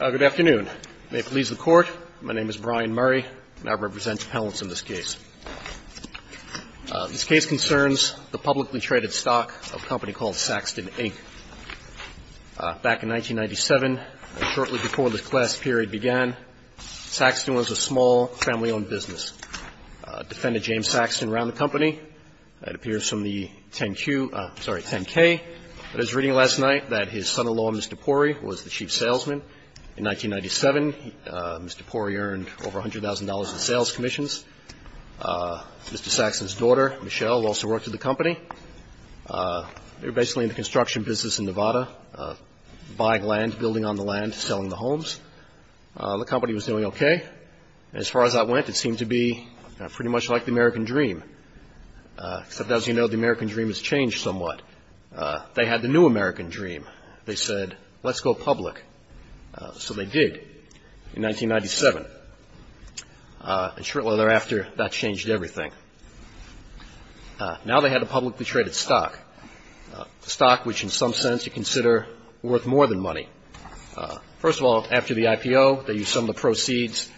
Good afternoon. May it please the Court, my name is Brian Murray, and I represent the panelists in this case. This case concerns the publicly traded stock of a company called Saxton, Inc. Back in 1997, shortly before the class period began, Saxton was a small, family-owned business. A defendant, James Saxton, ran the company. That appears from the 10-Q, sorry, 10-K. I was reading last night that his son-in-law, Mr. Porry, was the chief salesman. In 1997, Mr. Porry earned over $100,000 in sales commissions. Mr. Saxton's daughter, Michelle, also worked at the company. They were basically in the construction business in Nevada, buying land, building on the land, selling the homes. The company was doing okay. As far as I went, it seemed to be pretty much like the American Dream, except, as you know, the American Dream has changed somewhat. They had the new American Dream. They said, let's go public. So they did in 1997. And shortly thereafter, that changed everything. Now they had a publicly traded stock, a stock which in some sense you consider worth more than money. First of all, after the IPO, they used some of the proceeds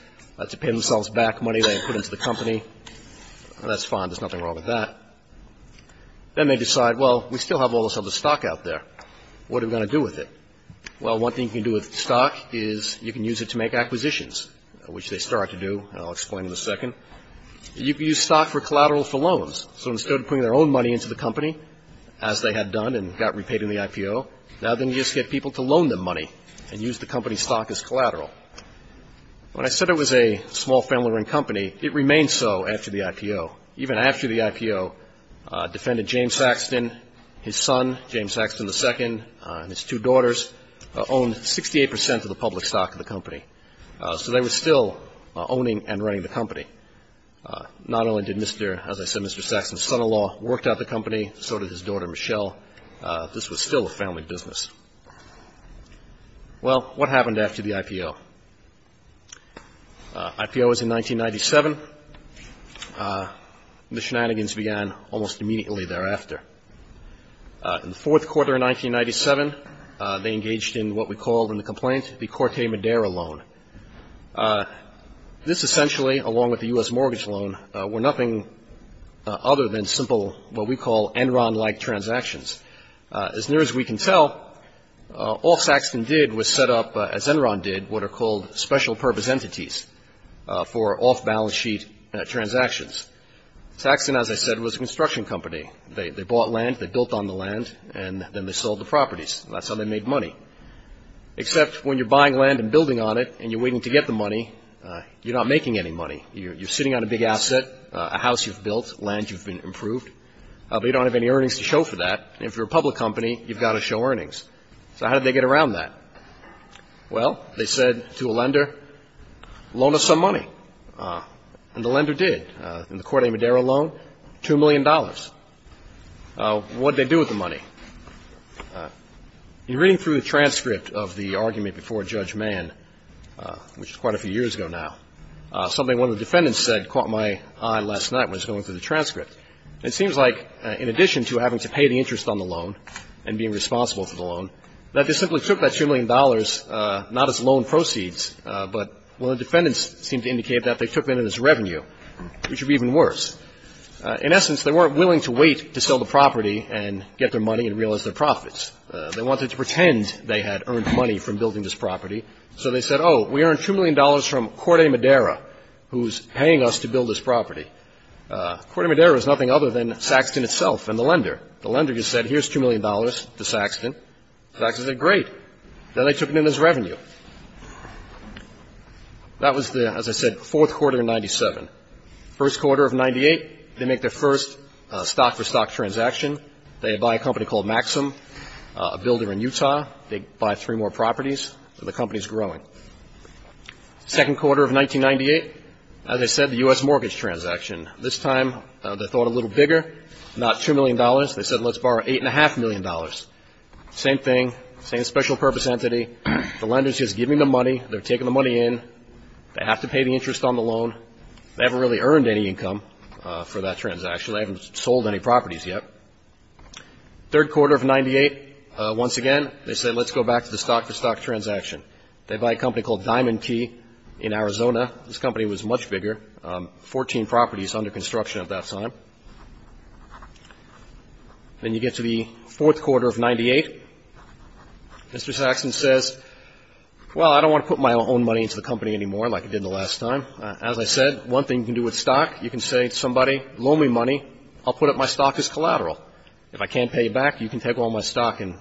to pay themselves back money they had put into the company. That's fine. There's nothing wrong with that. Then they decide, well, we still have all this other stock out there. What are we going to do with it? Well, one thing you can do with stock is you can use it to make acquisitions, which they started to do, and I'll explain in a second. You can use stock for collateral for loans. So instead of putting their own money into the company, as they had done and got repaid in the IPO, now then you just get people to loan them money and use the company's stock as collateral. When I said it was a small family-run company, it remained so after the IPO. Even after the IPO, Defendant James Saxton, his son, James Saxton II, and his two daughters owned 68 percent of the public stock of the company. So they were still owning and running the company. Not only did Mr. — as I said, Mr. Saxton's son-in-law worked out the company, so did his daughter, Michelle. This was still a family business. Well, what happened after the IPO? IPO was in 1997. The shenanigans began almost immediately thereafter. In the fourth quarter of 1997, they engaged in what we called in the complaint the Corte Madera loan. This essentially, along with the U.S. mortgage loan, were nothing other than simple, what we call Enron-like transactions. As near as we can tell, the Saxton did was set up, as Enron did, what are called special purpose entities for off-balance sheet transactions. Saxton, as I said, was a construction company. They bought land, they built on the land, and then they sold the properties. That's how they made money. Except when you're buying land and building on it and you're waiting to get the money, you're not making any money. You're sitting on a big asset, a house you've built, land you've improved, but you don't have any earnings to show for that. If you're a public company, you've got to show earnings. So how did they get around that? Well, they said to a lender, loan us some money. And the lender did. In the Corte Madera loan, $2 million. What did they do with the money? In reading through the transcript of the argument before Judge Mann, which was quite a few years ago now, something one of the defendants said caught my eye last night when I was going through the transcript. It seems like in addition to having to pay the interest on the loan and being responsible for the loan, that they simply took that $2 million not as loan proceeds, but what the defendants seemed to indicate that they took it as revenue, which would be even worse. In essence, they weren't willing to wait to sell the property and get their money and realize their profits. They wanted to pretend they had earned money from building this property. So they said, oh, we earned $2 million from Corte Madera, who's paying us to build this The lender just said, here's $2 million to Saxton. Saxton said, great. Then they took it in as revenue. That was the, as I said, fourth quarter of 97. First quarter of 98, they make their first stock-for-stock transaction. They buy a company called Maxim, a builder in Utah. They buy three more properties. The company's growing. Second quarter of 1998, as I said, the U.S. mortgage transaction. This time they thought a little bigger, not $2 million. They said, let's borrow $8.5 million. Same thing, same special purpose entity. The lender's just giving them money. They're taking the money in. They have to pay the interest on the loan. They haven't really earned any income for that transaction. They haven't sold any properties yet. Third quarter of 98, once again, they said, let's go back to the stock-for-stock transaction. They buy a company called Diamond Key in Arizona. This company was much bigger, 14 properties under construction at that time. Then you get to the fourth quarter of 98. Mr. Saxton says, well, I don't want to put my own money into the company anymore like I did the last time. As I said, one thing you can do with stock, you can say to somebody, loan me money. I'll put up my stock as collateral. If I can't pay you back, you can take all my stock and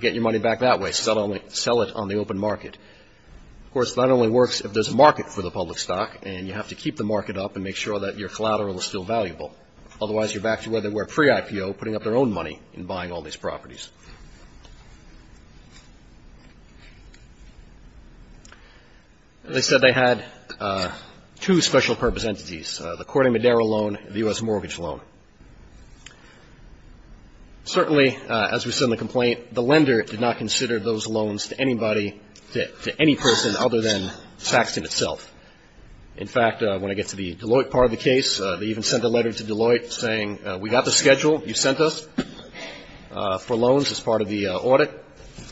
get your money back that way, sell it on the open market. Of course, that only works if there's a market for the public stock, and you have to keep the market up and make sure that your collateral is still valuable. Otherwise, you're back to where they were pre-IPO, putting up their own money and buying all these properties. They said they had two special-purpose entities, the Corte Madera loan and the U.S. mortgage loan. Certainly, as we said in the complaint, the lender did not consider those loans to anybody to any person other than Saxton itself. In fact, when I get to the Deloitte part of the case, they even sent a letter to Deloitte saying, we got the schedule. You sent us for loans as part of the audit.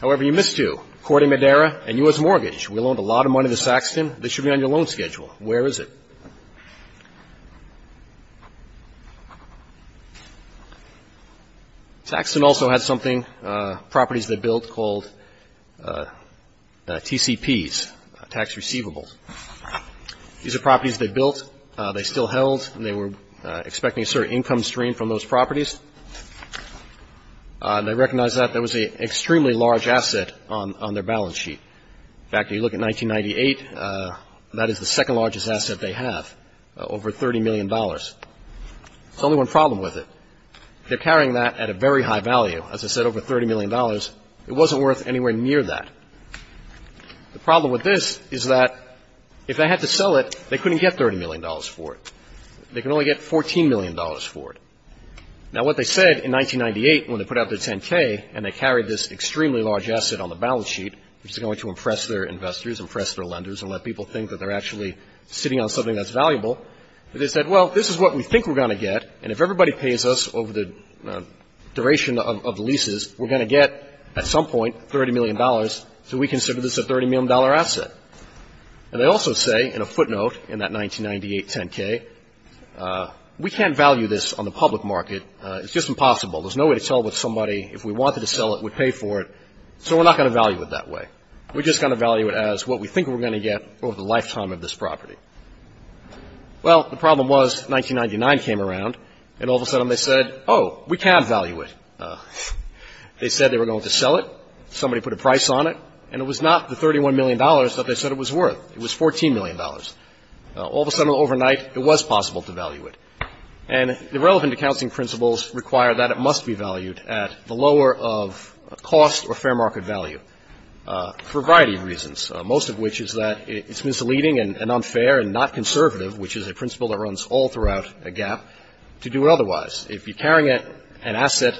However, you missed two, Corte Madera and U.S. mortgage. We loaned a lot of money to Saxton. This should be on your loan schedule. Where is it? Saxton also had something, properties they built, called TCPs, tax receivables. These are properties they built. They still held, and they were expecting a certain income stream from those properties. They recognized that that was an extremely large asset on their balance sheet. In fact, if you look at 1998, that is the second largest asset they have, over $30 million. There's only one problem with it. They're carrying that at a very high value. As I said, over $30 million. It wasn't worth anywhere near that. The problem with this is that if they had to sell it, they couldn't get $30 million for it. They could only get $14 million for it. Now, what they said in 1998 when they put out their 10K and they carried this extremely large asset on the balance sheet, which is going to impress their investors, impress their lenders, and let people think that they're actually sitting on something that's valuable, they said, well, this is what we think we're going to get, and if everybody pays us over the duration of the leases, we're going to get at some point $30 million, so we consider this a $30 million asset. And they also say in a footnote in that 1998 10K, we can't value this on the public market. It's just impossible. There's no way to tell if somebody, if we wanted to sell it, would pay for it, so we're not going to value it that way. We're just going to value it as what we think we're going to get over the lifetime of this property. Well, the problem was 1999 came around, and all of a sudden they said, oh, we can value it. They said they were going to sell it. Somebody put a price on it, and it was not the $31 million that they said it was worth. It was $14 million. All of a sudden, overnight, it was possible to value it. And the relevant accounting principles require that it must be valued at the lower of cost or fair market value for a variety of reasons, most of which is that it's misleading and unfair and not conservative, which is a principle that runs all throughout a gap, to do otherwise. If you're carrying an asset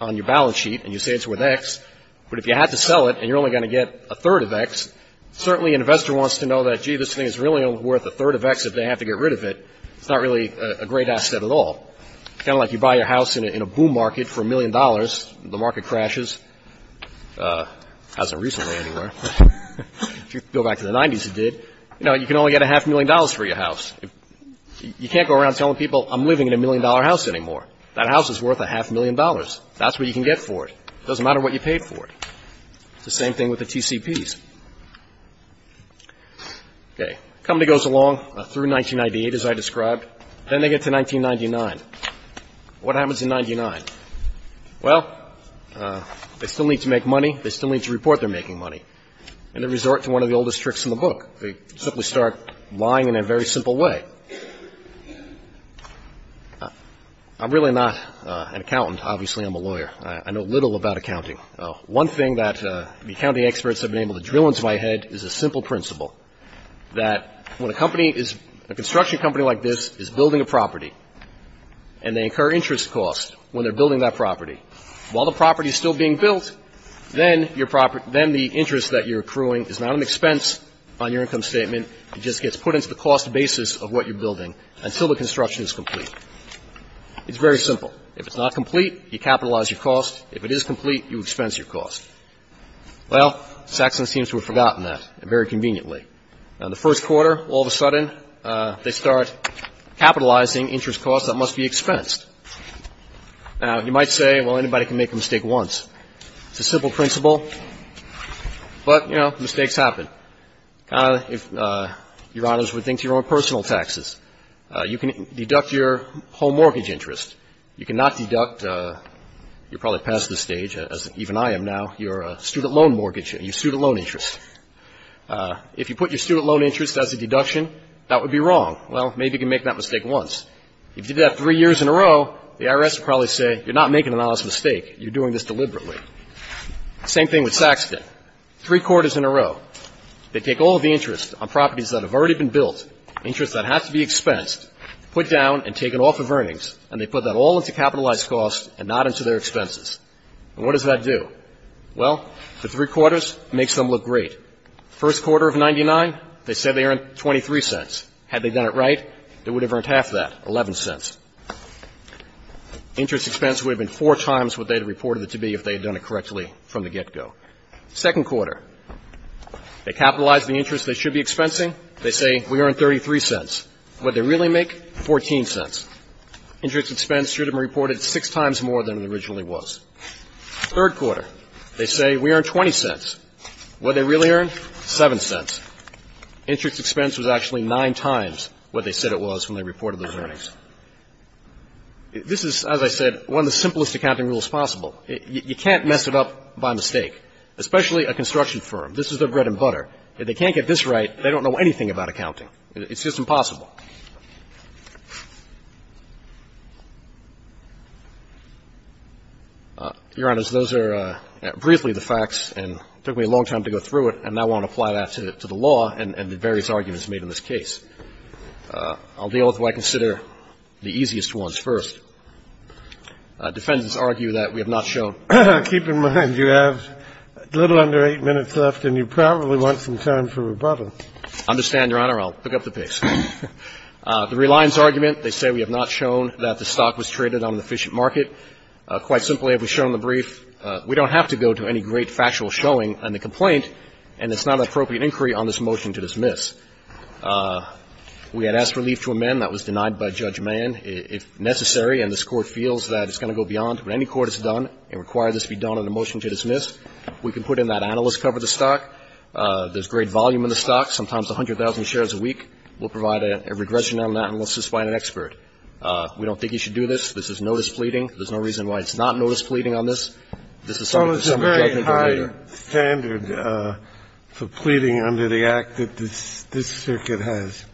on your balance sheet and you say it's worth X, but if you had to sell it and you're only going to get a third of X, certainly an investor wants to know that, gee, this thing is really only worth a third of X if they have to get rid of it, it's not really a great asset at all. Kind of like you buy your house in a boom market for a million dollars. The market crashes. It hasn't recently anywhere. If you go back to the 90s, it did. You know, you can only get a half million dollars for your house. You can't go around telling people, I'm living in a million-dollar house anymore. That house is worth a half million dollars. That's what you can get for it. It doesn't matter what you paid for it. It's the same thing with the TCPs. Okay. Company goes along through 1998, as I described. Then they get to 1999. What happens in 1999? Well, they still need to make money. They still need to report they're making money. And they resort to one of the oldest tricks in the book. They simply start lying in a very simple way. I'm really not an accountant. Obviously, I'm a lawyer. I know little about accounting. One thing that the accounting experts have been able to drill into my head is a simple principle, that when a company is, a construction company like this is building a property and they incur interest costs when they're building that property, while the property is still being built, then the interest that you're accruing is not an expense on your income statement. It just gets put into the cost basis of what you're building until the construction is complete. It's very simple. If it's not complete, you capitalize your cost. If it is complete, you expense your cost. Well, Saxon seems to have forgotten that very conveniently. In the first quarter, all of a sudden, they start capitalizing interest costs that must be expensed. Now, you might say, well, anybody can make a mistake once. It's a simple principle. But, you know, mistakes happen. If Your Honors would think to your own personal taxes. You can deduct your home mortgage interest. You cannot deduct, you're probably past this stage, as even I am now, your student loan mortgage, your student loan interest. If you put your student loan interest as a deduction, that would be wrong. Well, maybe you can make that mistake once. If you did that three years in a row, the IRS would probably say, you're not making an honest mistake. You're doing this deliberately. Same thing with Saxton. Three quarters in a row. They take all of the interest on properties that have already been built, interest that has to be expensed, put down and taken off of earnings, and they put that all into capitalized costs and not into their expenses. And what does that do? Well, the three quarters makes them look great. First quarter of 1999, they said they earned 23 cents. Had they done it right, they would have earned half that, 11 cents. Interest expense would have been four times what they had reported it to be if they had done it correctly from the get-go. Second quarter, they capitalize the interest they should be expensing. They say we earned 33 cents. What did they really make? 14 cents. Interest expense should have been reported six times more than it originally was. Third quarter, they say we earned 20 cents. What did they really earn? Seven cents. Interest expense was actually nine times what they said it was when they reported those earnings. This is, as I said, one of the simplest accounting rules possible. You can't mess it up by mistake, especially a construction firm. This is their bread and butter. If they can't get this right, they don't know anything about accounting. It's just impossible. Your Honors, those are briefly the facts, and it took me a long time to go through it, and I won't apply that to the law and the various arguments made in this case. I'll deal with what I consider the easiest ones first. Defendants argue that we have not shown. Keep in mind, you have a little under eight minutes left, and you probably want some time for rebuttal. I understand, Your Honor. I'll pick up the pace. The Reliance argument, they say we have not shown that the stock was traded on an efficient market. Quite simply, it was shown in the brief. We don't have to go to any great factual showing on the complaint, and it's not an appropriate inquiry on this motion to dismiss. We had asked relief to amend. That was denied by Judge Mann, if necessary, and this Court feels that it's going to go beyond what any court has done. It requires this to be done on a motion to dismiss. We can put in that analyst cover of the stock. There's great volume in the stock, sometimes 100,000 shares a week. We'll provide a regression on that, and we'll suspend an expert. We don't think you should do this. This is notice pleading. There's no reason why it's not notice pleading on this. This is something that's subject to judgment later. This is a very high standard for pleading under the Act that this Circuit has,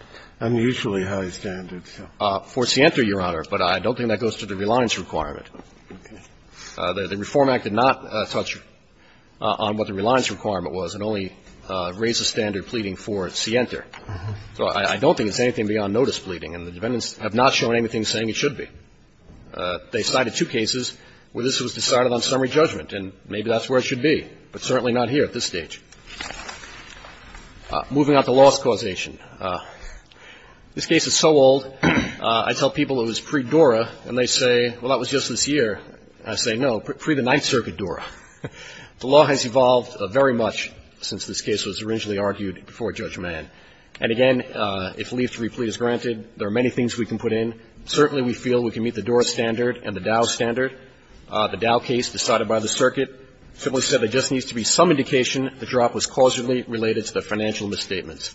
unusually high standards. For Sienta, Your Honor, but I don't think that goes to the Reliance requirement. The Reform Act did not touch on what the Reliance requirement was. It only raised the standard pleading for Sienta. So I don't think it's anything beyond notice pleading, and the defendants have not shown anything saying it should be. They cited two cases where this was decided on summary judgment, and maybe that's where it should be, but certainly not here at this stage. Moving on to loss causation. This case is so old, I tell people it was pre-DORA, and they say, well, that was just this year. I say, no, pre-the Ninth Circuit DORA. The law has evolved very much since this case was originally argued before judgment. And again, if leave to replete is granted, there are many things we can put in. Certainly we feel we can meet the DORA standard and the Dow standard. The Dow case decided by the Circuit simply said there just needs to be some indication the drop was causally related to the financial misstatements,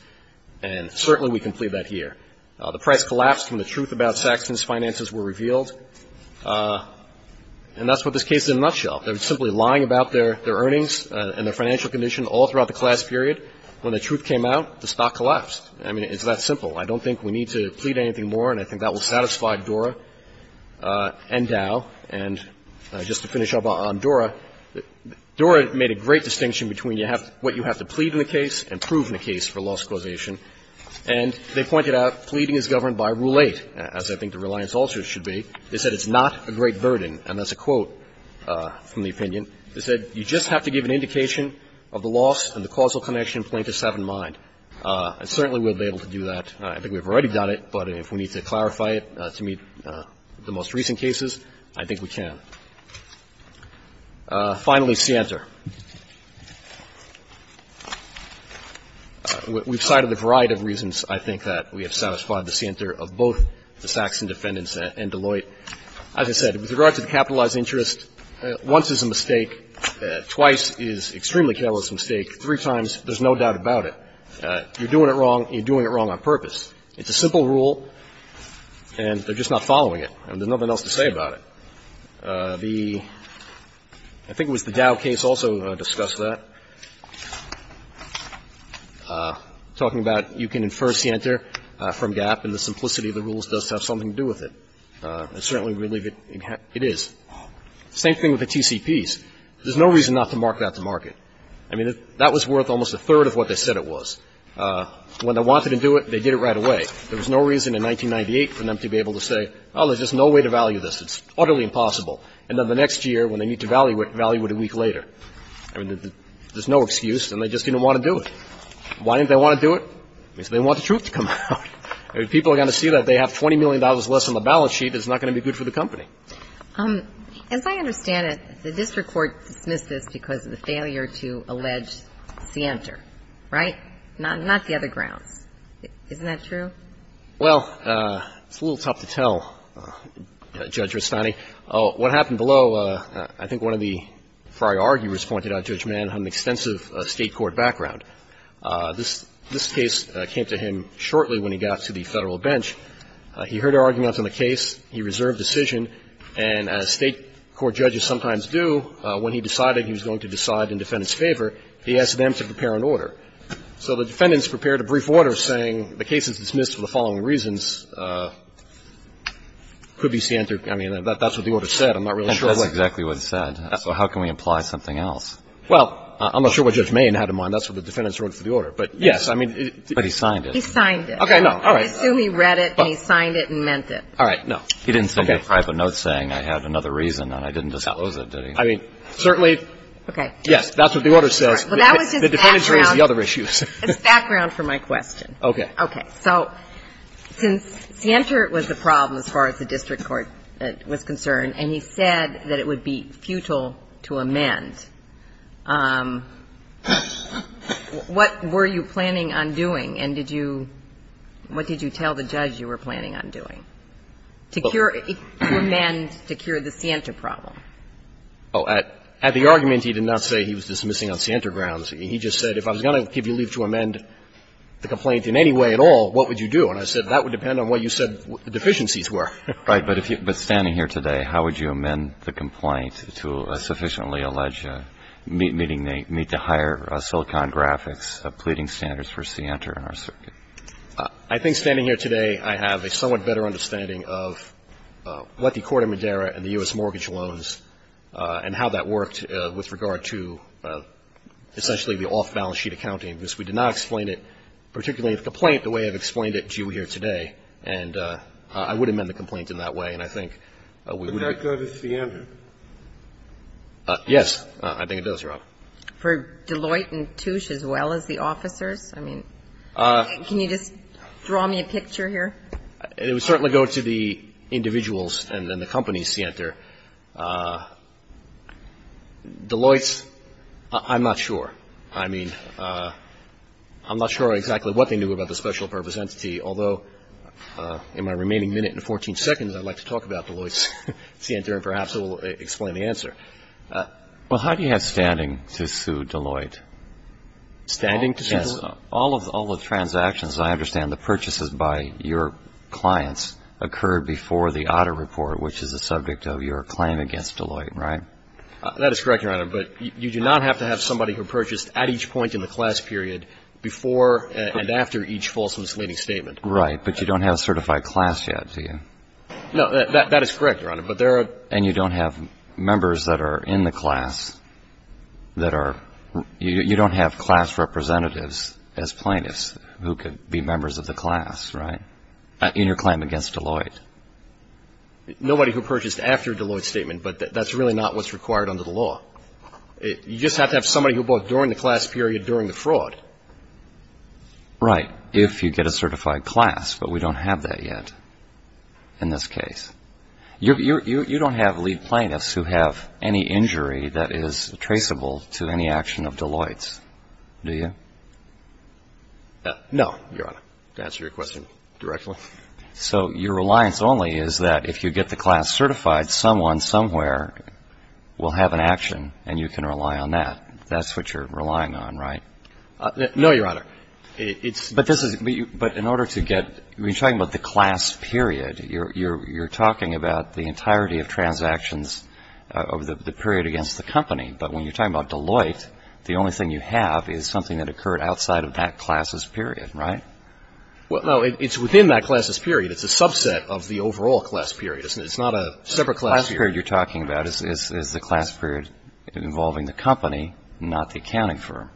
and certainly we can plead that here. The press collapsed when the truth about Saxton's finances were revealed. And that's what this case is in a nutshell. They were simply lying about their earnings and their financial condition all throughout the class period. When the truth came out, the stock collapsed. I mean, it's that simple. I don't think we need to plead anything more, and I think that will satisfy DORA and Dow. And just to finish up on DORA, DORA made a great distinction between what you have to plead in the case and prove in the case for loss causation, and they pointed out pleading is governed by Rule 8, as I think the reliance ulcers should be. They said it's not a great burden, and that's a quote from the opinion. They said you just have to give an indication of the loss and the causal connection plaintiffs have in mind. And certainly we'll be able to do that. I think we've already done it, but if we need to clarify it to meet the most recent cases, I think we can. Finally, Sienter. We've cited a variety of reasons, I think, that we have satisfied the Sienter of both the Saxon defendants and Deloitte. As I said, with regard to the capitalized interest, once is a mistake, twice is extremely careless mistake, three times there's no doubt about it. You're doing it wrong, and you're doing it wrong on purpose. It's a simple rule, and they're just not following it, and there's nothing else to say about it. The – I think it was the Dow case also. We also discussed that, talking about you can infer Sienter from Gap, and the simplicity of the rules does have something to do with it. And certainly we believe it is. Same thing with the TCPs. There's no reason not to mark that to market. I mean, that was worth almost a third of what they said it was. When they wanted to do it, they did it right away. There was no reason in 1998 for them to be able to say, oh, there's just no way to value this. It's utterly impossible. And then the next year, when they need to value it, value it a week later. I mean, there's no excuse, and they just didn't want to do it. Why didn't they want to do it? Because they didn't want the truth to come out. I mean, people are going to see that they have $20 million less on the balance sheet that's not going to be good for the company. As I understand it, the district court dismissed this because of the failure to allege Sienter, right? Not the other grounds. Isn't that true? Well, it's a little tough to tell, Judge Rustani. What happened below, I think one of the prior arguers pointed out, Judge Mann, had an extensive state court background. This case came to him shortly when he got to the Federal bench. He heard arguments on the case. He reserved decision. And as state court judges sometimes do, when he decided he was going to decide in defendants' favor, he asked them to prepare an order. So the defendants prepared a brief order saying the case is dismissed for the following reasons. Could be Sienter. I mean, that's what the order said. I'm not really sure. That's exactly what it said. So how can we imply something else? Well, I'm not sure what Judge Mann had in mind. That's what the defendants wrote for the order. But yes, I mean. But he signed it. He signed it. Okay. No. All right. I assume he read it and he signed it and meant it. All right. No. He didn't send me a private note saying I had another reason and I didn't disclose it, did he? I mean, certainly. Okay. Yes. That's what the order says. But that was just background. The defendants raised the other issues. It's background for my question. Okay. All right. Okay. So since Sienter was the problem as far as the district court was concerned and he said that it would be futile to amend, what were you planning on doing and did you – what did you tell the judge you were planning on doing to cure – to amend – to cure the Sienter problem? Oh, at the argument, he did not say he was dismissing on Sienter grounds. He just said if I was going to give you leave to amend the complaint in any way at all, what would you do? And I said that would depend on what you said the deficiencies were. Right. But if you – but standing here today, how would you amend the complaint to sufficiently allege meeting the – meet the higher Silicon Graphics pleading standards for Sienter in our circuit? I think standing here today, I have a somewhat better understanding of what the Court of the off-balance sheet accounting is. We did not explain it, particularly the complaint, the way I've explained it to you here today. And I would amend the complaint in that way and I think we would – Would that go to Sienter? Yes. I think it does, Your Honor. For Deloitte and Touche as well as the officers? I mean, can you just draw me a picture here? It would certainly go to the individuals and then the company, Sienter. Deloitte's – I'm not sure. I mean, I'm not sure exactly what they knew about the special purpose entity, although in my remaining minute and 14 seconds, I'd like to talk about Deloitte's, Sienter, and perhaps it will explain the answer. Well, how do you have standing to sue Deloitte? Standing to sue Deloitte? Yes. All of the transactions, I understand, the purchases by your clients, occurred before the Otter Report, which is the subject of your claim against Deloitte, right? That is correct, Your Honor. But you do not have to have somebody who purchased at each point in the class period, before and after each false misleading statement. Right. But you don't have a certified class yet, do you? No. That is correct, Your Honor. But there are – And you don't have members that are in the class that are – you don't have class representatives as plaintiffs who could be members of the class, right? In your claim against Deloitte. Nobody who purchased after a Deloitte statement, but that's really not what's required under the law. You just have to have somebody who bought during the class period, during the fraud. Right. If you get a certified class, but we don't have that yet in this case. You don't have lead plaintiffs who have any injury that is traceable to any action of Deloitte's, do you? No, Your Honor. To answer your question directly. So your reliance only is that if you get the class certified, someone somewhere will have an action and you can rely on that. That's what you're relying on, right? No, Your Honor. It's – But this is – but in order to get – we're talking about the class period. You're talking about the entirety of transactions over the period against the company. But when you're talking about Deloitte, the only thing you have is something that occurred outside of that class's period, right? Well, no. It's within that class's period. It's a subset of the overall class period. It's not a separate class period. The class period you're talking about is the class period involving the company, not the accounting firm.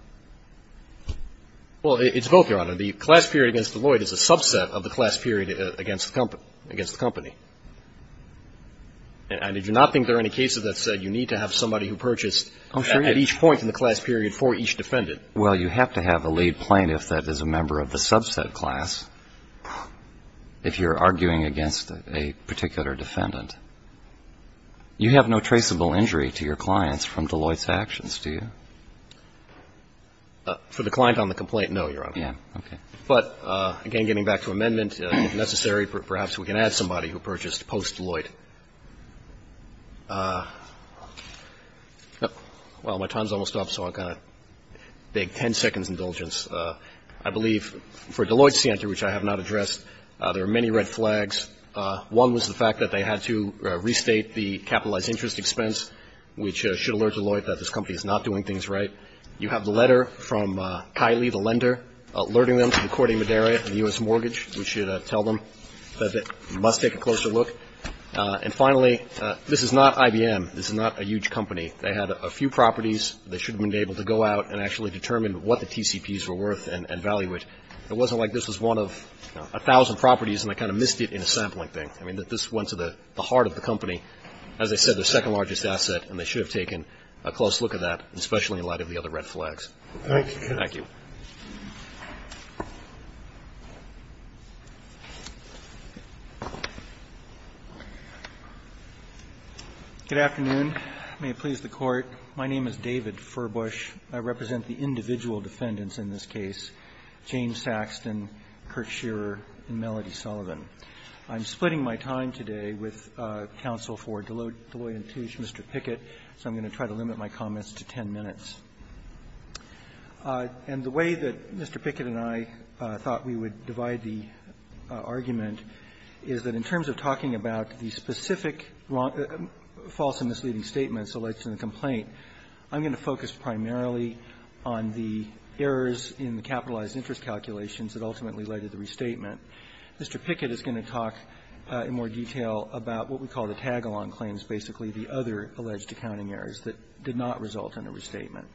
Well, it's both, Your Honor. The class period against Deloitte is a subset of the class period against the company. And I do not think there are any cases that said you need to have somebody who purchased at each point in the class period for each defendant. Well, you have to have a lead plaintiff that is a member of the subset class if you're arguing against a particular defendant. You have no traceable injury to your clients from Deloitte's actions, do you? For the client on the complaint, no, Your Honor. Yeah, okay. But, again, getting back to amendment, if necessary, perhaps we can add somebody who purchased post-Deloitte. Well, my time's almost up, so I'm going to beg 10 seconds' indulgence. I believe for Deloitte Center, which I have not addressed, there are many red flags. One was the fact that they had to restate the capitalized interest expense, which should alert Deloitte that this company is not doing things right. You have the letter from Kylie, the lender, alerting them to the Corte Madera and the U.S. mortgage, which should tell them that they must take a closer look. And, finally, this is not IBM. This is not a huge company. They had a few properties. They should have been able to go out and actually determine what the TCPs were worth and value it. It wasn't like this was one of 1,000 properties, and they kind of missed it in a sampling thing. I mean, this went to the heart of the company. As I said, their second largest asset, and they should have taken a close look at that, especially in light of the other red flags. Thank you. Thank you. Furbush. Good afternoon. May it please the Court. My name is David Furbush. I represent the individual defendants in this case, James Saxton, Kurt Shearer, and Melody Sullivan. I'm splitting my time today with counsel for Deloitte and Touche, Mr. Pickett, so I'm going to try to limit my comments to 10 minutes. And the way that Mr. Pickett and I thought we would divide the argument is that in terms of talking about the specific false and misleading statements alleged in the complaint, I'm going to focus primarily on the errors in the capitalized interest calculations that ultimately led to the restatement. Mr. Pickett is going to talk in more detail about what we call the tag-along claims, basically the other alleged accounting errors that did not result in a restatement.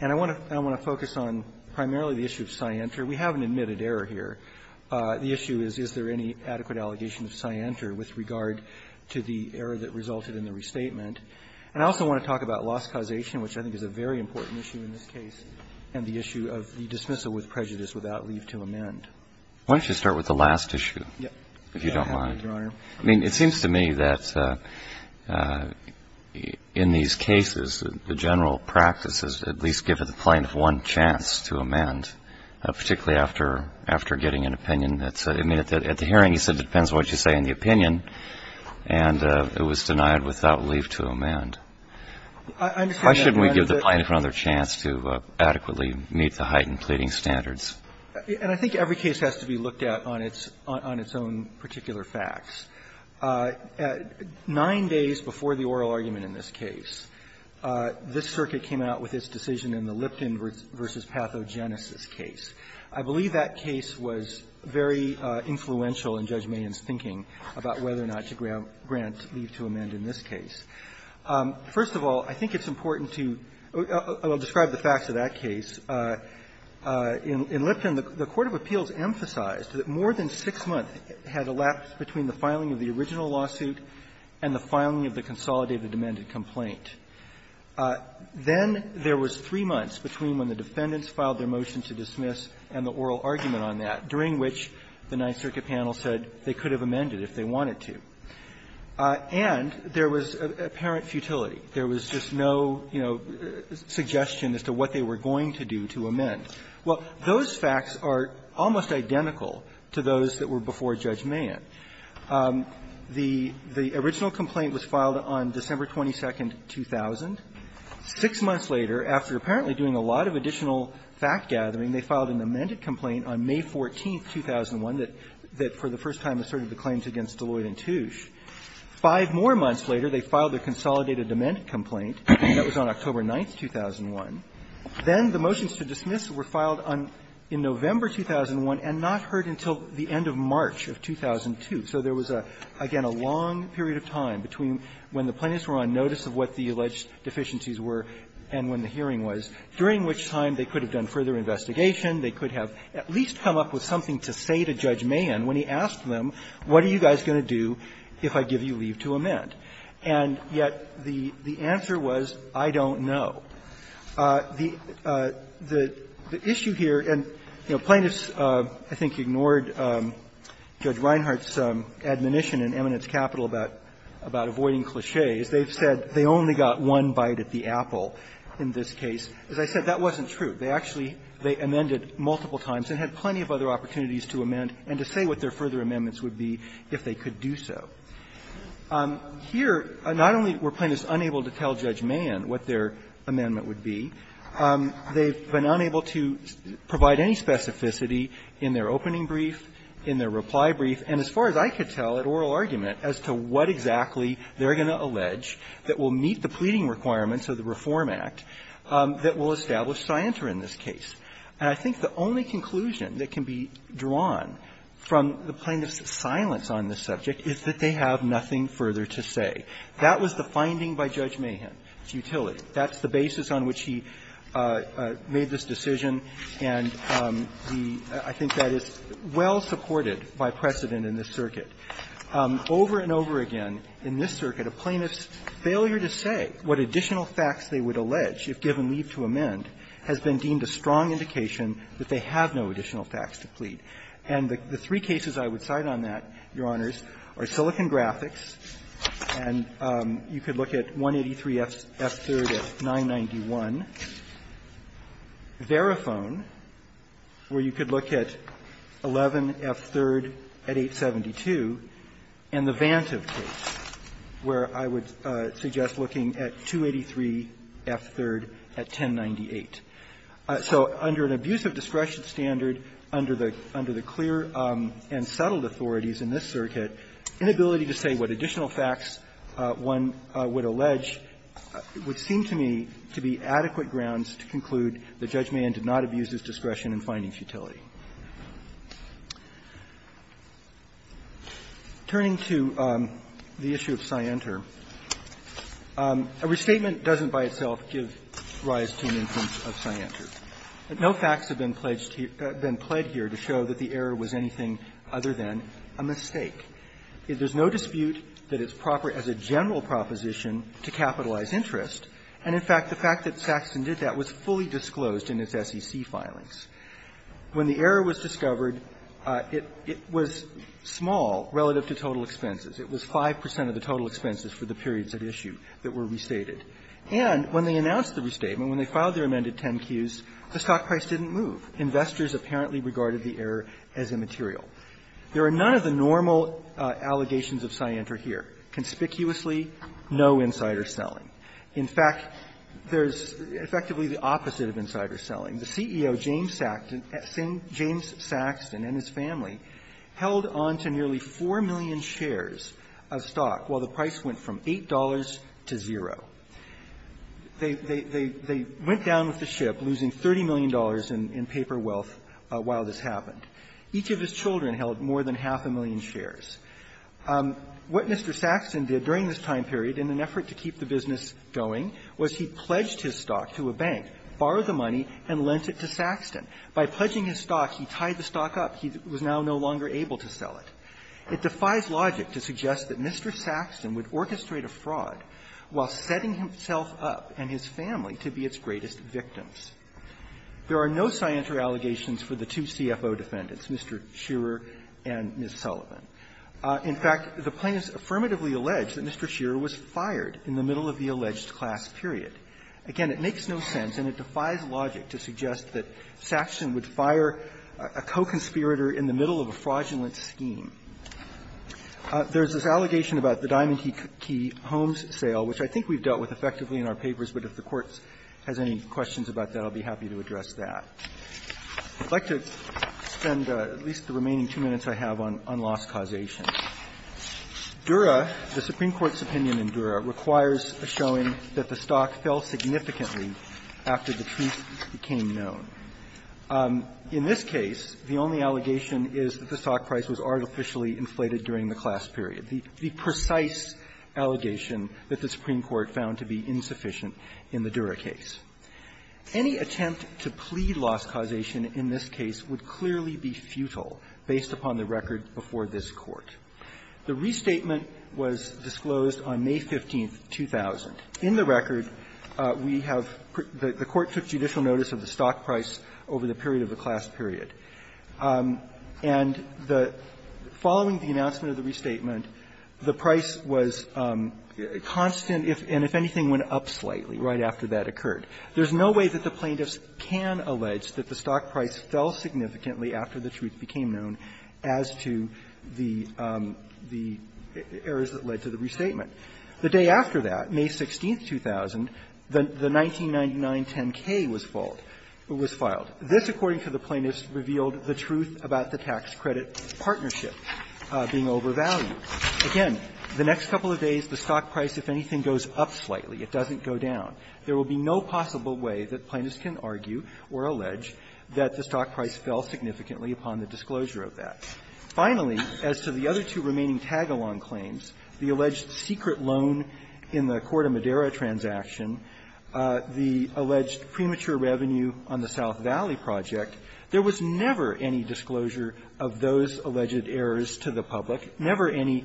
And I want to focus on primarily the issue of scienter. We have an admitted error here. The issue is, is there any adequate allegation of scienter with regard to the error that resulted in the restatement? And I also want to talk about loss causation, which I think is a very important issue in this case, and the issue of the dismissal with prejudice without leave to amend. Why don't you start with the last issue, if you don't mind? Yes, Your Honor. I mean, it seems to me that in these cases, the general practice is to at least give the plaintiff one chance to amend, particularly after getting an opinion. I mean, at the hearing, he said, it depends on what you say in the opinion, and it was denied without leave to amend. Why shouldn't we give the plaintiff another chance to adequately meet the heightened pleading standards? And I think every case has to be looked at on its own particular facts. Nine days before the oral argument in this case, this circuit came out with its decision in the Lipton v. Pathogenesis case. I believe that case was very influential in Judge Mayen's thinking about whether or not to grant leave to amend in this case. First of all, I think it's important to describe the facts of that case. In Lipton, the court of appeals emphasized that more than six months had elapsed between the filing of the original lawsuit and the filing of the consolidated amended complaint. Then there was three months between when the defendants filed their motion to dismiss and the oral argument on that, during which the Ninth Circuit panel said they could have amended if they wanted to. And there was apparent futility. There was just no, you know, suggestion as to what they were going to do to amend. Well, those facts are almost identical to those that were before Judge Mayen. The original complaint was filed on December 22nd, 2000. Six months later, after apparently doing a lot of additional fact-gathering, they filed an amended complaint on May 14th, 2001, that for the first time asserted the claims against Deloitte and Touche. Five more months later, they filed their consolidated amended complaint, and that was on October 9th, 2001. Then the motions to dismiss were filed in November 2001 and not heard until the end of March of 2002. So there was, again, a long period of time between when the plaintiffs were on notice of what the alleged deficiencies were and when the hearing was, during which time they could have done further investigation, they could have at least come up with something to say to Judge Mayen when he asked them, what are you guys going to do if I give you leave to amend? And yet the answer was, I don't know. The issue here, and, you know, plaintiffs, I think, ignored Judge Reinhart's admonition in Eminence Capital about avoiding clichés. They've said they only got one bite at the apple in this case. As I said, that wasn't true. They actually amended multiple times and had plenty of other opportunities to amend and to say what their further amendments would be if they could do so. Here, not only were plaintiffs unable to tell Judge Mayen what their amendment would be, they've been unable to provide any specificity in their opening brief, in their reply brief, and as far as I could tell, an oral argument as to what exactly they're going to allege that will meet the pleading requirements of the Reform Act that will establish scienter in this case. And I think the only conclusion that can be drawn from the plaintiffs' silence on this subject is that they have nothing further to say. That was the finding by Judge Mayen, its utility. That's the basis on which he made this decision, and the – I think that is well supported by precedent in this circuit. Over and over again in this circuit, a plaintiff's failure to say what additional facts they would allege if given leave to amend has been deemed a strong indication that they have no additional facts to plead. And the three cases I would cite on that, Your Honors, are Silicon Graphics, and you could look at 183 F-3rd at 991, Verifone, where you could look at 11 F-3rd at 872, and the Vantive case, where I would suggest looking at 283 F-3rd at 1098. So under an abuse of discretion standard, under the clear and settled authorities in this circuit, inability to say what additional facts one would allege would seem to me to be adequate grounds to conclude that Judge Mayen did not abuse his discretion in finding futility. Turning to the issue of scienter, a restatement doesn't by itself give rise to an instance of scienter. No facts have been pledged here to show that the error was anything other than a mistake. There's no dispute that it's proper as a general proposition to capitalize interest, and, in fact, the fact that Saxton did that was fully disclosed in its SEC filings. When the error was discovered, it was small relative to total expenses. It was 5 percent of the total expenses for the periods at issue that were restated. And when they announced the restatement, when they filed their amended 10-Qs, the stock price didn't move. Investors apparently regarded the error as immaterial. There are none of the normal allegations of scienter here. Conspicuously, no insider selling. In fact, there's effectively the opposite of insider selling. The CEO, James Saxton, and his family held on to nearly 4 million shares of stock while the price went from $8 to zero. They went down with the ship, losing $30 million in paper wealth while this happened. Each of his children held more than half a million shares. What Mr. Saxton did during this time period in an effort to keep the business going was he pledged his stock to a bank, borrowed the money, and lent it to Saxton. By pledging his stock, he tied the stock up. He was now no longer able to sell it. It defies logic to suggest that Mr. Saxton would orchestrate a fraud while setting himself up and his family to be its greatest victims. There are no scienter allegations for the two CFO defendants, Mr. Shearer and Ms. Sullivan. In fact, the plaintiffs affirmatively allege that Mr. Shearer was fired in the middle of the alleged class period. Again, it makes no sense and it defies logic to suggest that Saxton would fire a co-conspirator in the middle of a fraudulent scheme. There's this allegation about the Diamond Key Homes sale, which I think we've dealt with effectively in our papers, but if the Court has any questions about that, I'll be happy to address that. I'd like to spend at least the remaining two minutes I have on loss causation. Dura, the Supreme Court's opinion in Dura, requires a showing that the stock fell significantly after the truth became known. In this case, the only allegation is that the stock price was artificially inflated during the class period, the precise allegation that the Supreme Court found to be insufficient in the Dura case. Any attempt to plead loss causation in this case would clearly be futile based upon the record before this Court. The restatement was disclosed on May 15, 2000. In the record, we have the Court took judicial notice of the stock price over the period of the class period. And the – following the announcement of the restatement, the price was constant, and if anything, went up slightly right after that occurred. There's no way that the plaintiffs can allege that the stock price fell significantly after the truth became known as to the errors that led to the restatement. The day after that, May 16, 2000, the 1999-10-K was filed. This, according to the plaintiffs, revealed the truth about the tax-credit partnership being overvalued. Again, the next couple of days, the stock price, if anything, goes up slightly. It doesn't go down. There will be no possible way that plaintiffs can argue or allege that the stock price fell significantly upon the disclosure of that. Finally, as to the other two remaining tag-along claims, the alleged secret loan in the Corte Madera transaction, the alleged premature revenue on the South Valley project, there was never any disclosure of those alleged errors to the public, never any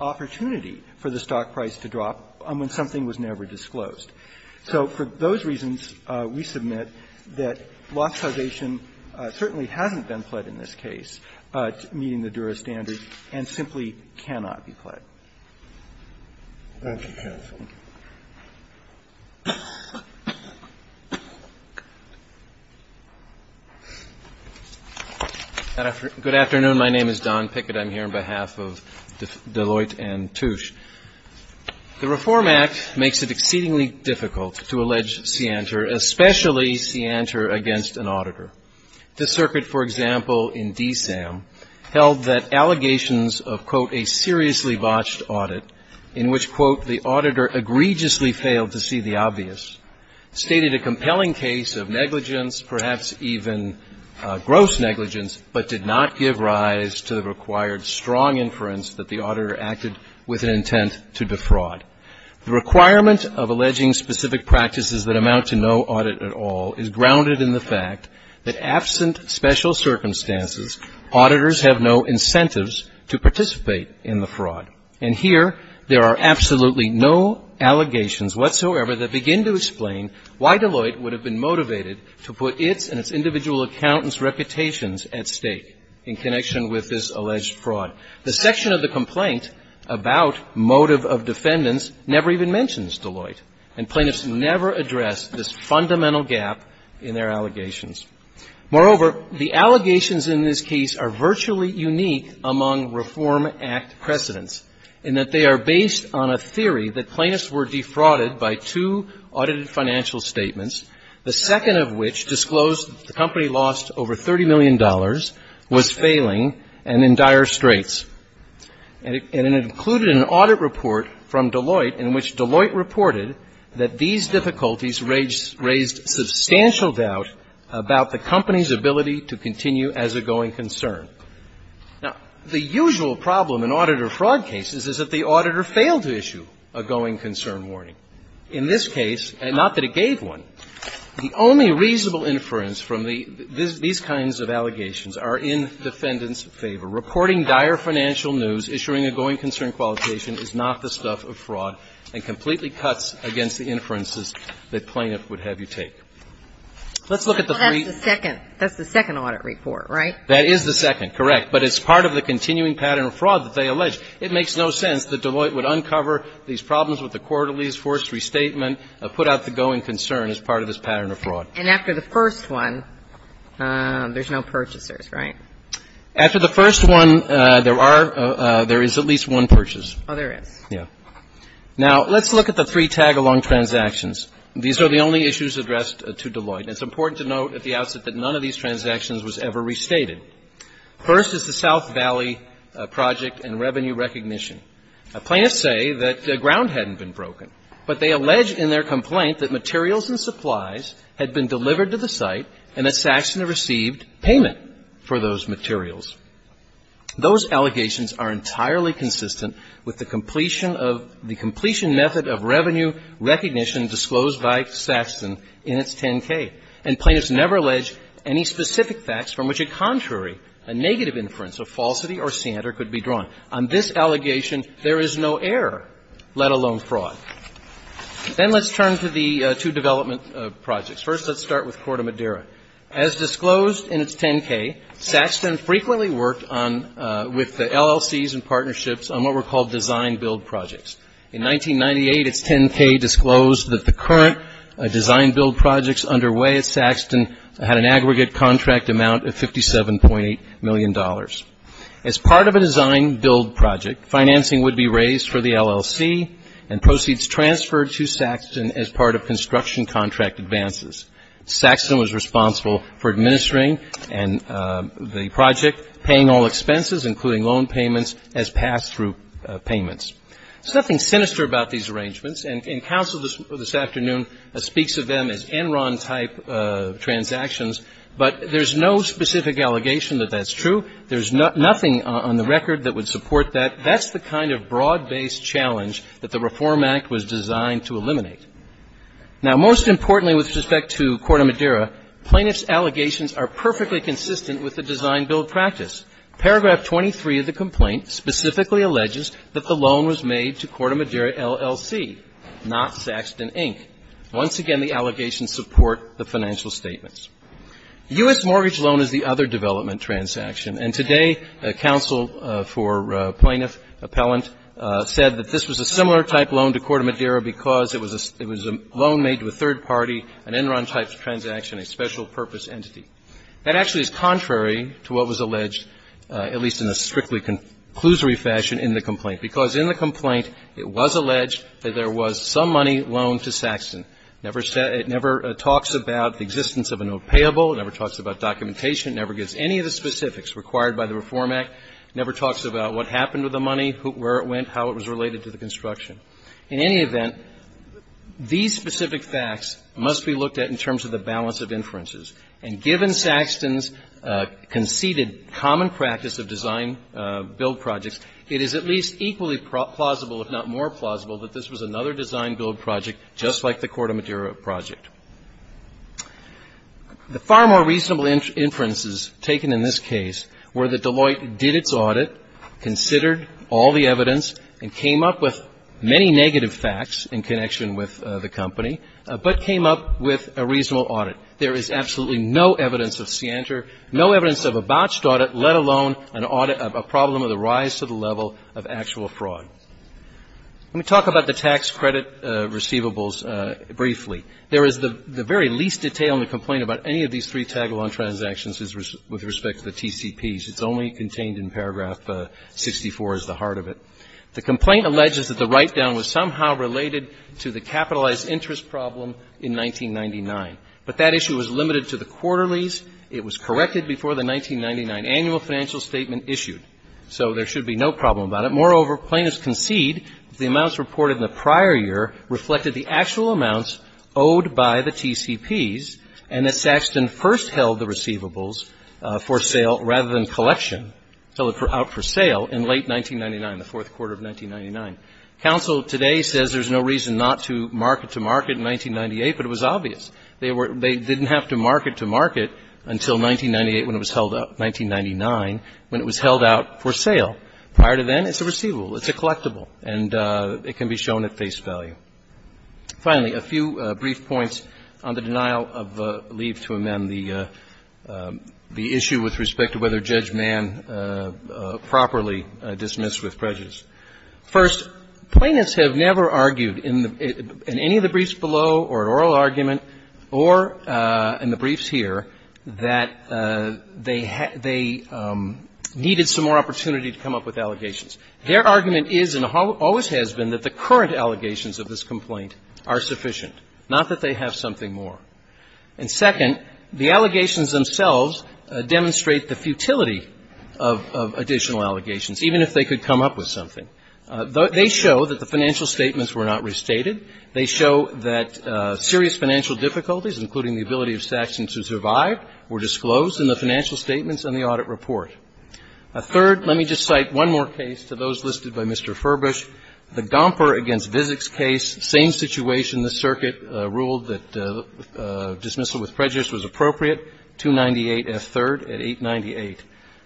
opportunity for the stock price to drop when something was never disclosed. So for those reasons, we submit that lot salvation certainly hasn't been pled in any way in this case, meeting the Dura standard, and simply cannot be pled. Thank you, counsel. Good afternoon. My name is Don Pickett. I'm here on behalf of Deloitte and Touche. The Reform Act makes it exceedingly difficult to allege scienter, especially scienter against an auditor. This circuit, for example, in DSAM, held that allegations of, quote, a seriously botched audit, in which, quote, the auditor egregiously failed to see the obvious, stated a compelling case of negligence, perhaps even gross negligence, but did not give rise to the required strong inference that the auditor acted with an intent to defraud. The requirement of alleging specific practices that amount to no audit at all is grounded in the fact that absent special circumstances, auditors have no incentives to participate in the fraud. And here, there are absolutely no allegations whatsoever that begin to explain why Deloitte would have been motivated to put its and its individual accountant's reputations at stake in connection with this alleged fraud. The section of the complaint about motive of defendants never even mentions Deloitte, and plaintiffs never address this fundamental gap in their allegations. Moreover, the allegations in this case are virtually unique among Reform Act precedents in that they are based on a theory that plaintiffs were defrauded by two audited financial statements, the second of which disclosed the company lost over $30 million, was failing, and in dire straits. And it included an audit report from Deloitte in which Deloitte reported that these difficulties raised substantial doubt about the company's ability to continue as a going concern. Now, the usual problem in auditor fraud cases is that the auditor failed to issue a going concern warning. In this case, and not that it gave one, the only reasonable inference from the these kinds of allegations are in defendants' favor. Reporting dire financial news, issuing a going concern qualification is not the stuff of fraud and completely cuts against the inferences that plaintiff would have you take. Let's look at the three. That's the second. That's the second audit report, right? That is the second, correct. But it's part of the continuing pattern of fraud that they allege. It makes no sense that Deloitte would uncover these problems with the quarterly force restatement, put out the going concern as part of this pattern of fraud. And after the first one, there's no purchasers, right? After the first one, there are at least one purchase. Oh, there is. Yeah. Now, let's look at the three tag-along transactions. These are the only issues addressed to Deloitte. It's important to note at the outset that none of these transactions was ever restated. First is the South Valley project and revenue recognition. Plaintiffs say that the ground hadn't been broken, but they allege in their complaint that materials and supplies had been delivered to the site and that Saxton had received payment for those materials. Those allegations are entirely consistent with the completion of the completion method of revenue recognition disclosed by Saxton in its 10-K. And plaintiffs never allege any specific facts from which a contrary, a negative inference of falsity or sander could be drawn. On this allegation, there is no error, let alone fraud. Then let's turn to the two development projects. First, let's start with Corte Madera. As disclosed in its 10-K, Saxton frequently worked on, with the LLCs and partnerships on what were called design-build projects. In 1998, its 10-K disclosed that the current design-build projects underway at Saxton had an aggregate contract amount of $57.8 million. As part of a design-build project, financing would be raised for the LLC and proceeds transferred to Saxton as part of construction contract advances. Saxton was responsible for administering the project, paying all expenses, including loan payments, as pass-through payments. There's nothing sinister about these arrangements. And counsel this afternoon speaks of them as Enron-type transactions. But there's no specific allegation that that's true. There's nothing on the record that would support that. That's the kind of broad-based challenge that the Reform Act was designed to eliminate. Now, most importantly with respect to Corte Madera, plaintiff's allegations are perfectly consistent with the design-build practice. Paragraph 23 of the complaint specifically alleges that the loan was made to Corte Madera LLC, not Saxton, Inc. Once again, the allegations support the financial statements. U.S. mortgage loan is the other development transaction. And today, counsel for plaintiff, appellant, said that this was a similar type loan to Corte Madera because it was a loan made to a third party, an Enron-type transaction, a special-purpose entity. That actually is contrary to what was alleged, at least in a strictly conclusory fashion in the complaint, because in the complaint, it was alleged that there was some money loaned to Saxton. It never talks about the existence of a note payable. It never talks about documentation. It never gives any of the specifics required by the Reform Act. It never talks about what happened with the money, where it went, how it was related to the construction. In any event, these specific facts must be looked at in terms of the balance of inferences. And given Saxton's conceded common practice of design-build projects, it is at least equally plausible, if not more plausible, that this was another design-build project, just like the Corte Madera project. The far more reasonable inferences taken in this case were that Deloitte did its audit, considered all the evidence, and came up with many negative facts in connection with the company, but came up with a reasonable audit. There is absolutely no evidence of scienter, no evidence of a botched audit, let alone an audit of a problem of the rise to the level of actual fraud. Let me talk about the tax credit receivables briefly. There is the very least detail in the complaint about any of these three tag-along transactions with respect to the TCPs. It's only contained in paragraph 64 is the heart of it. The complaint alleges that the write-down was somehow related to the capitalized interest problem in 1999. But that issue was limited to the quarterlies. It was corrected before the 1999 annual financial statement issued. So there should be no problem about it. Moreover, plaintiffs concede that the amounts reported in the prior year reflected the actual amounts owed by the TCPs, and that Saxton first held the receivables for sale rather than collection, held it out for sale in late 1999, the fourth quarter of 1999. Counsel today says there's no reason not to mark it to market in 1998, but it was obvious. They didn't have to mark it to market until 1998 when it was held out, 1999, when it was held out for sale. Prior to then, it's a receivable. It's a collectible. And it can be shown at face value. Finally, a few brief points on the denial of leave to amend the issue with respect to whether Judge Mann properly dismissed with prejudice. First, plaintiffs have never argued in any of the briefs below or an oral argument or in the briefs here that they needed some more opportunity to come up with allegations. Their argument is and always has been that the current allegations of this complaint are sufficient, not that they have something more. And second, the allegations themselves demonstrate the futility of additional allegations, even if they could come up with something. They show that the financial statements were not restated. They show that serious financial difficulties, including the ability of Saxon to survive, were disclosed in the financial statements and the audit report. Third, let me just cite one more case to those listed by Mr. Furbush, the Gomper v. Vizek case, same situation. The circuit ruled that dismissal with prejudice was appropriate, 298F3rd at 898.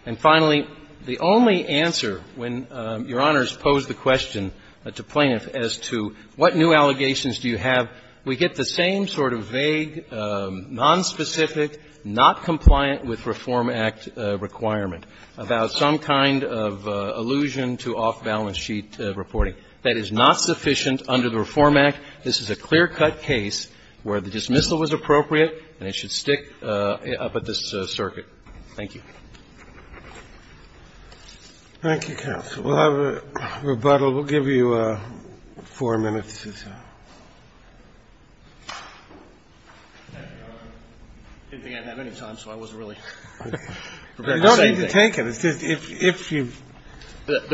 And finally, the only answer when Your Honors posed the question to plaintiffs as to what new allegations do you have, we get the same sort of vague, nonspecific, not compliant with Reform Act requirement about some kind of allusion to off-balance sheet reporting. That is not sufficient under the Reform Act. This is a clear-cut case where the dismissal was appropriate, and it should stick up at this circuit. Thank you. Thank you, counsel. We'll have a rebuttal. We'll give you four minutes. I didn't think I'd have any time, so I wasn't really prepared to say anything. You don't need to take it. It's just if you've got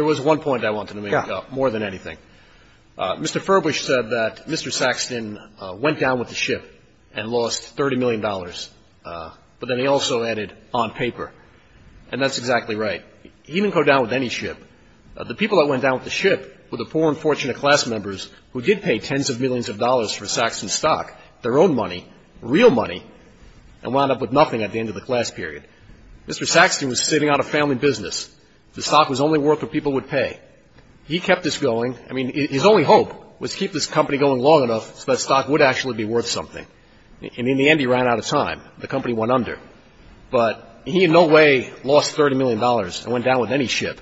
more than anything. Mr. Furbush said that Mr. Saxton went down with the ship and lost $30 million, but then he also added on paper, and that's exactly right. He didn't go down with any ship. The people that went down with the ship were the poor and fortunate class members who did pay tens of millions of dollars for Saxton's stock, their own money, real money, and wound up with nothing at the end of the class period. Mr. Saxton was sitting out a family business. The stock was only worth what people would pay. He kept this going. I mean, his only hope was to keep this company going long enough so that stock would actually be worth something. And in the end, he ran out of time. The company went under. But he in no way lost $30 million and went down with any ship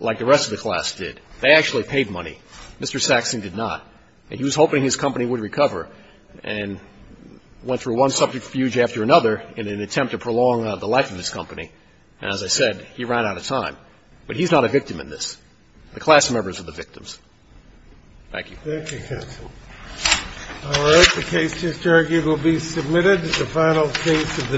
like the rest of the class did. They actually paid money. Mr. Saxton did not. And he was hoping his company would recover and went through one subject refuge after another in an attempt to prolong the life of his company. And as I said, he ran out of time. But he's not a victim in this. The class members are the victims. Thank you. Thank you, counsel. All right. The case to be argued will be submitted. The final case of the day.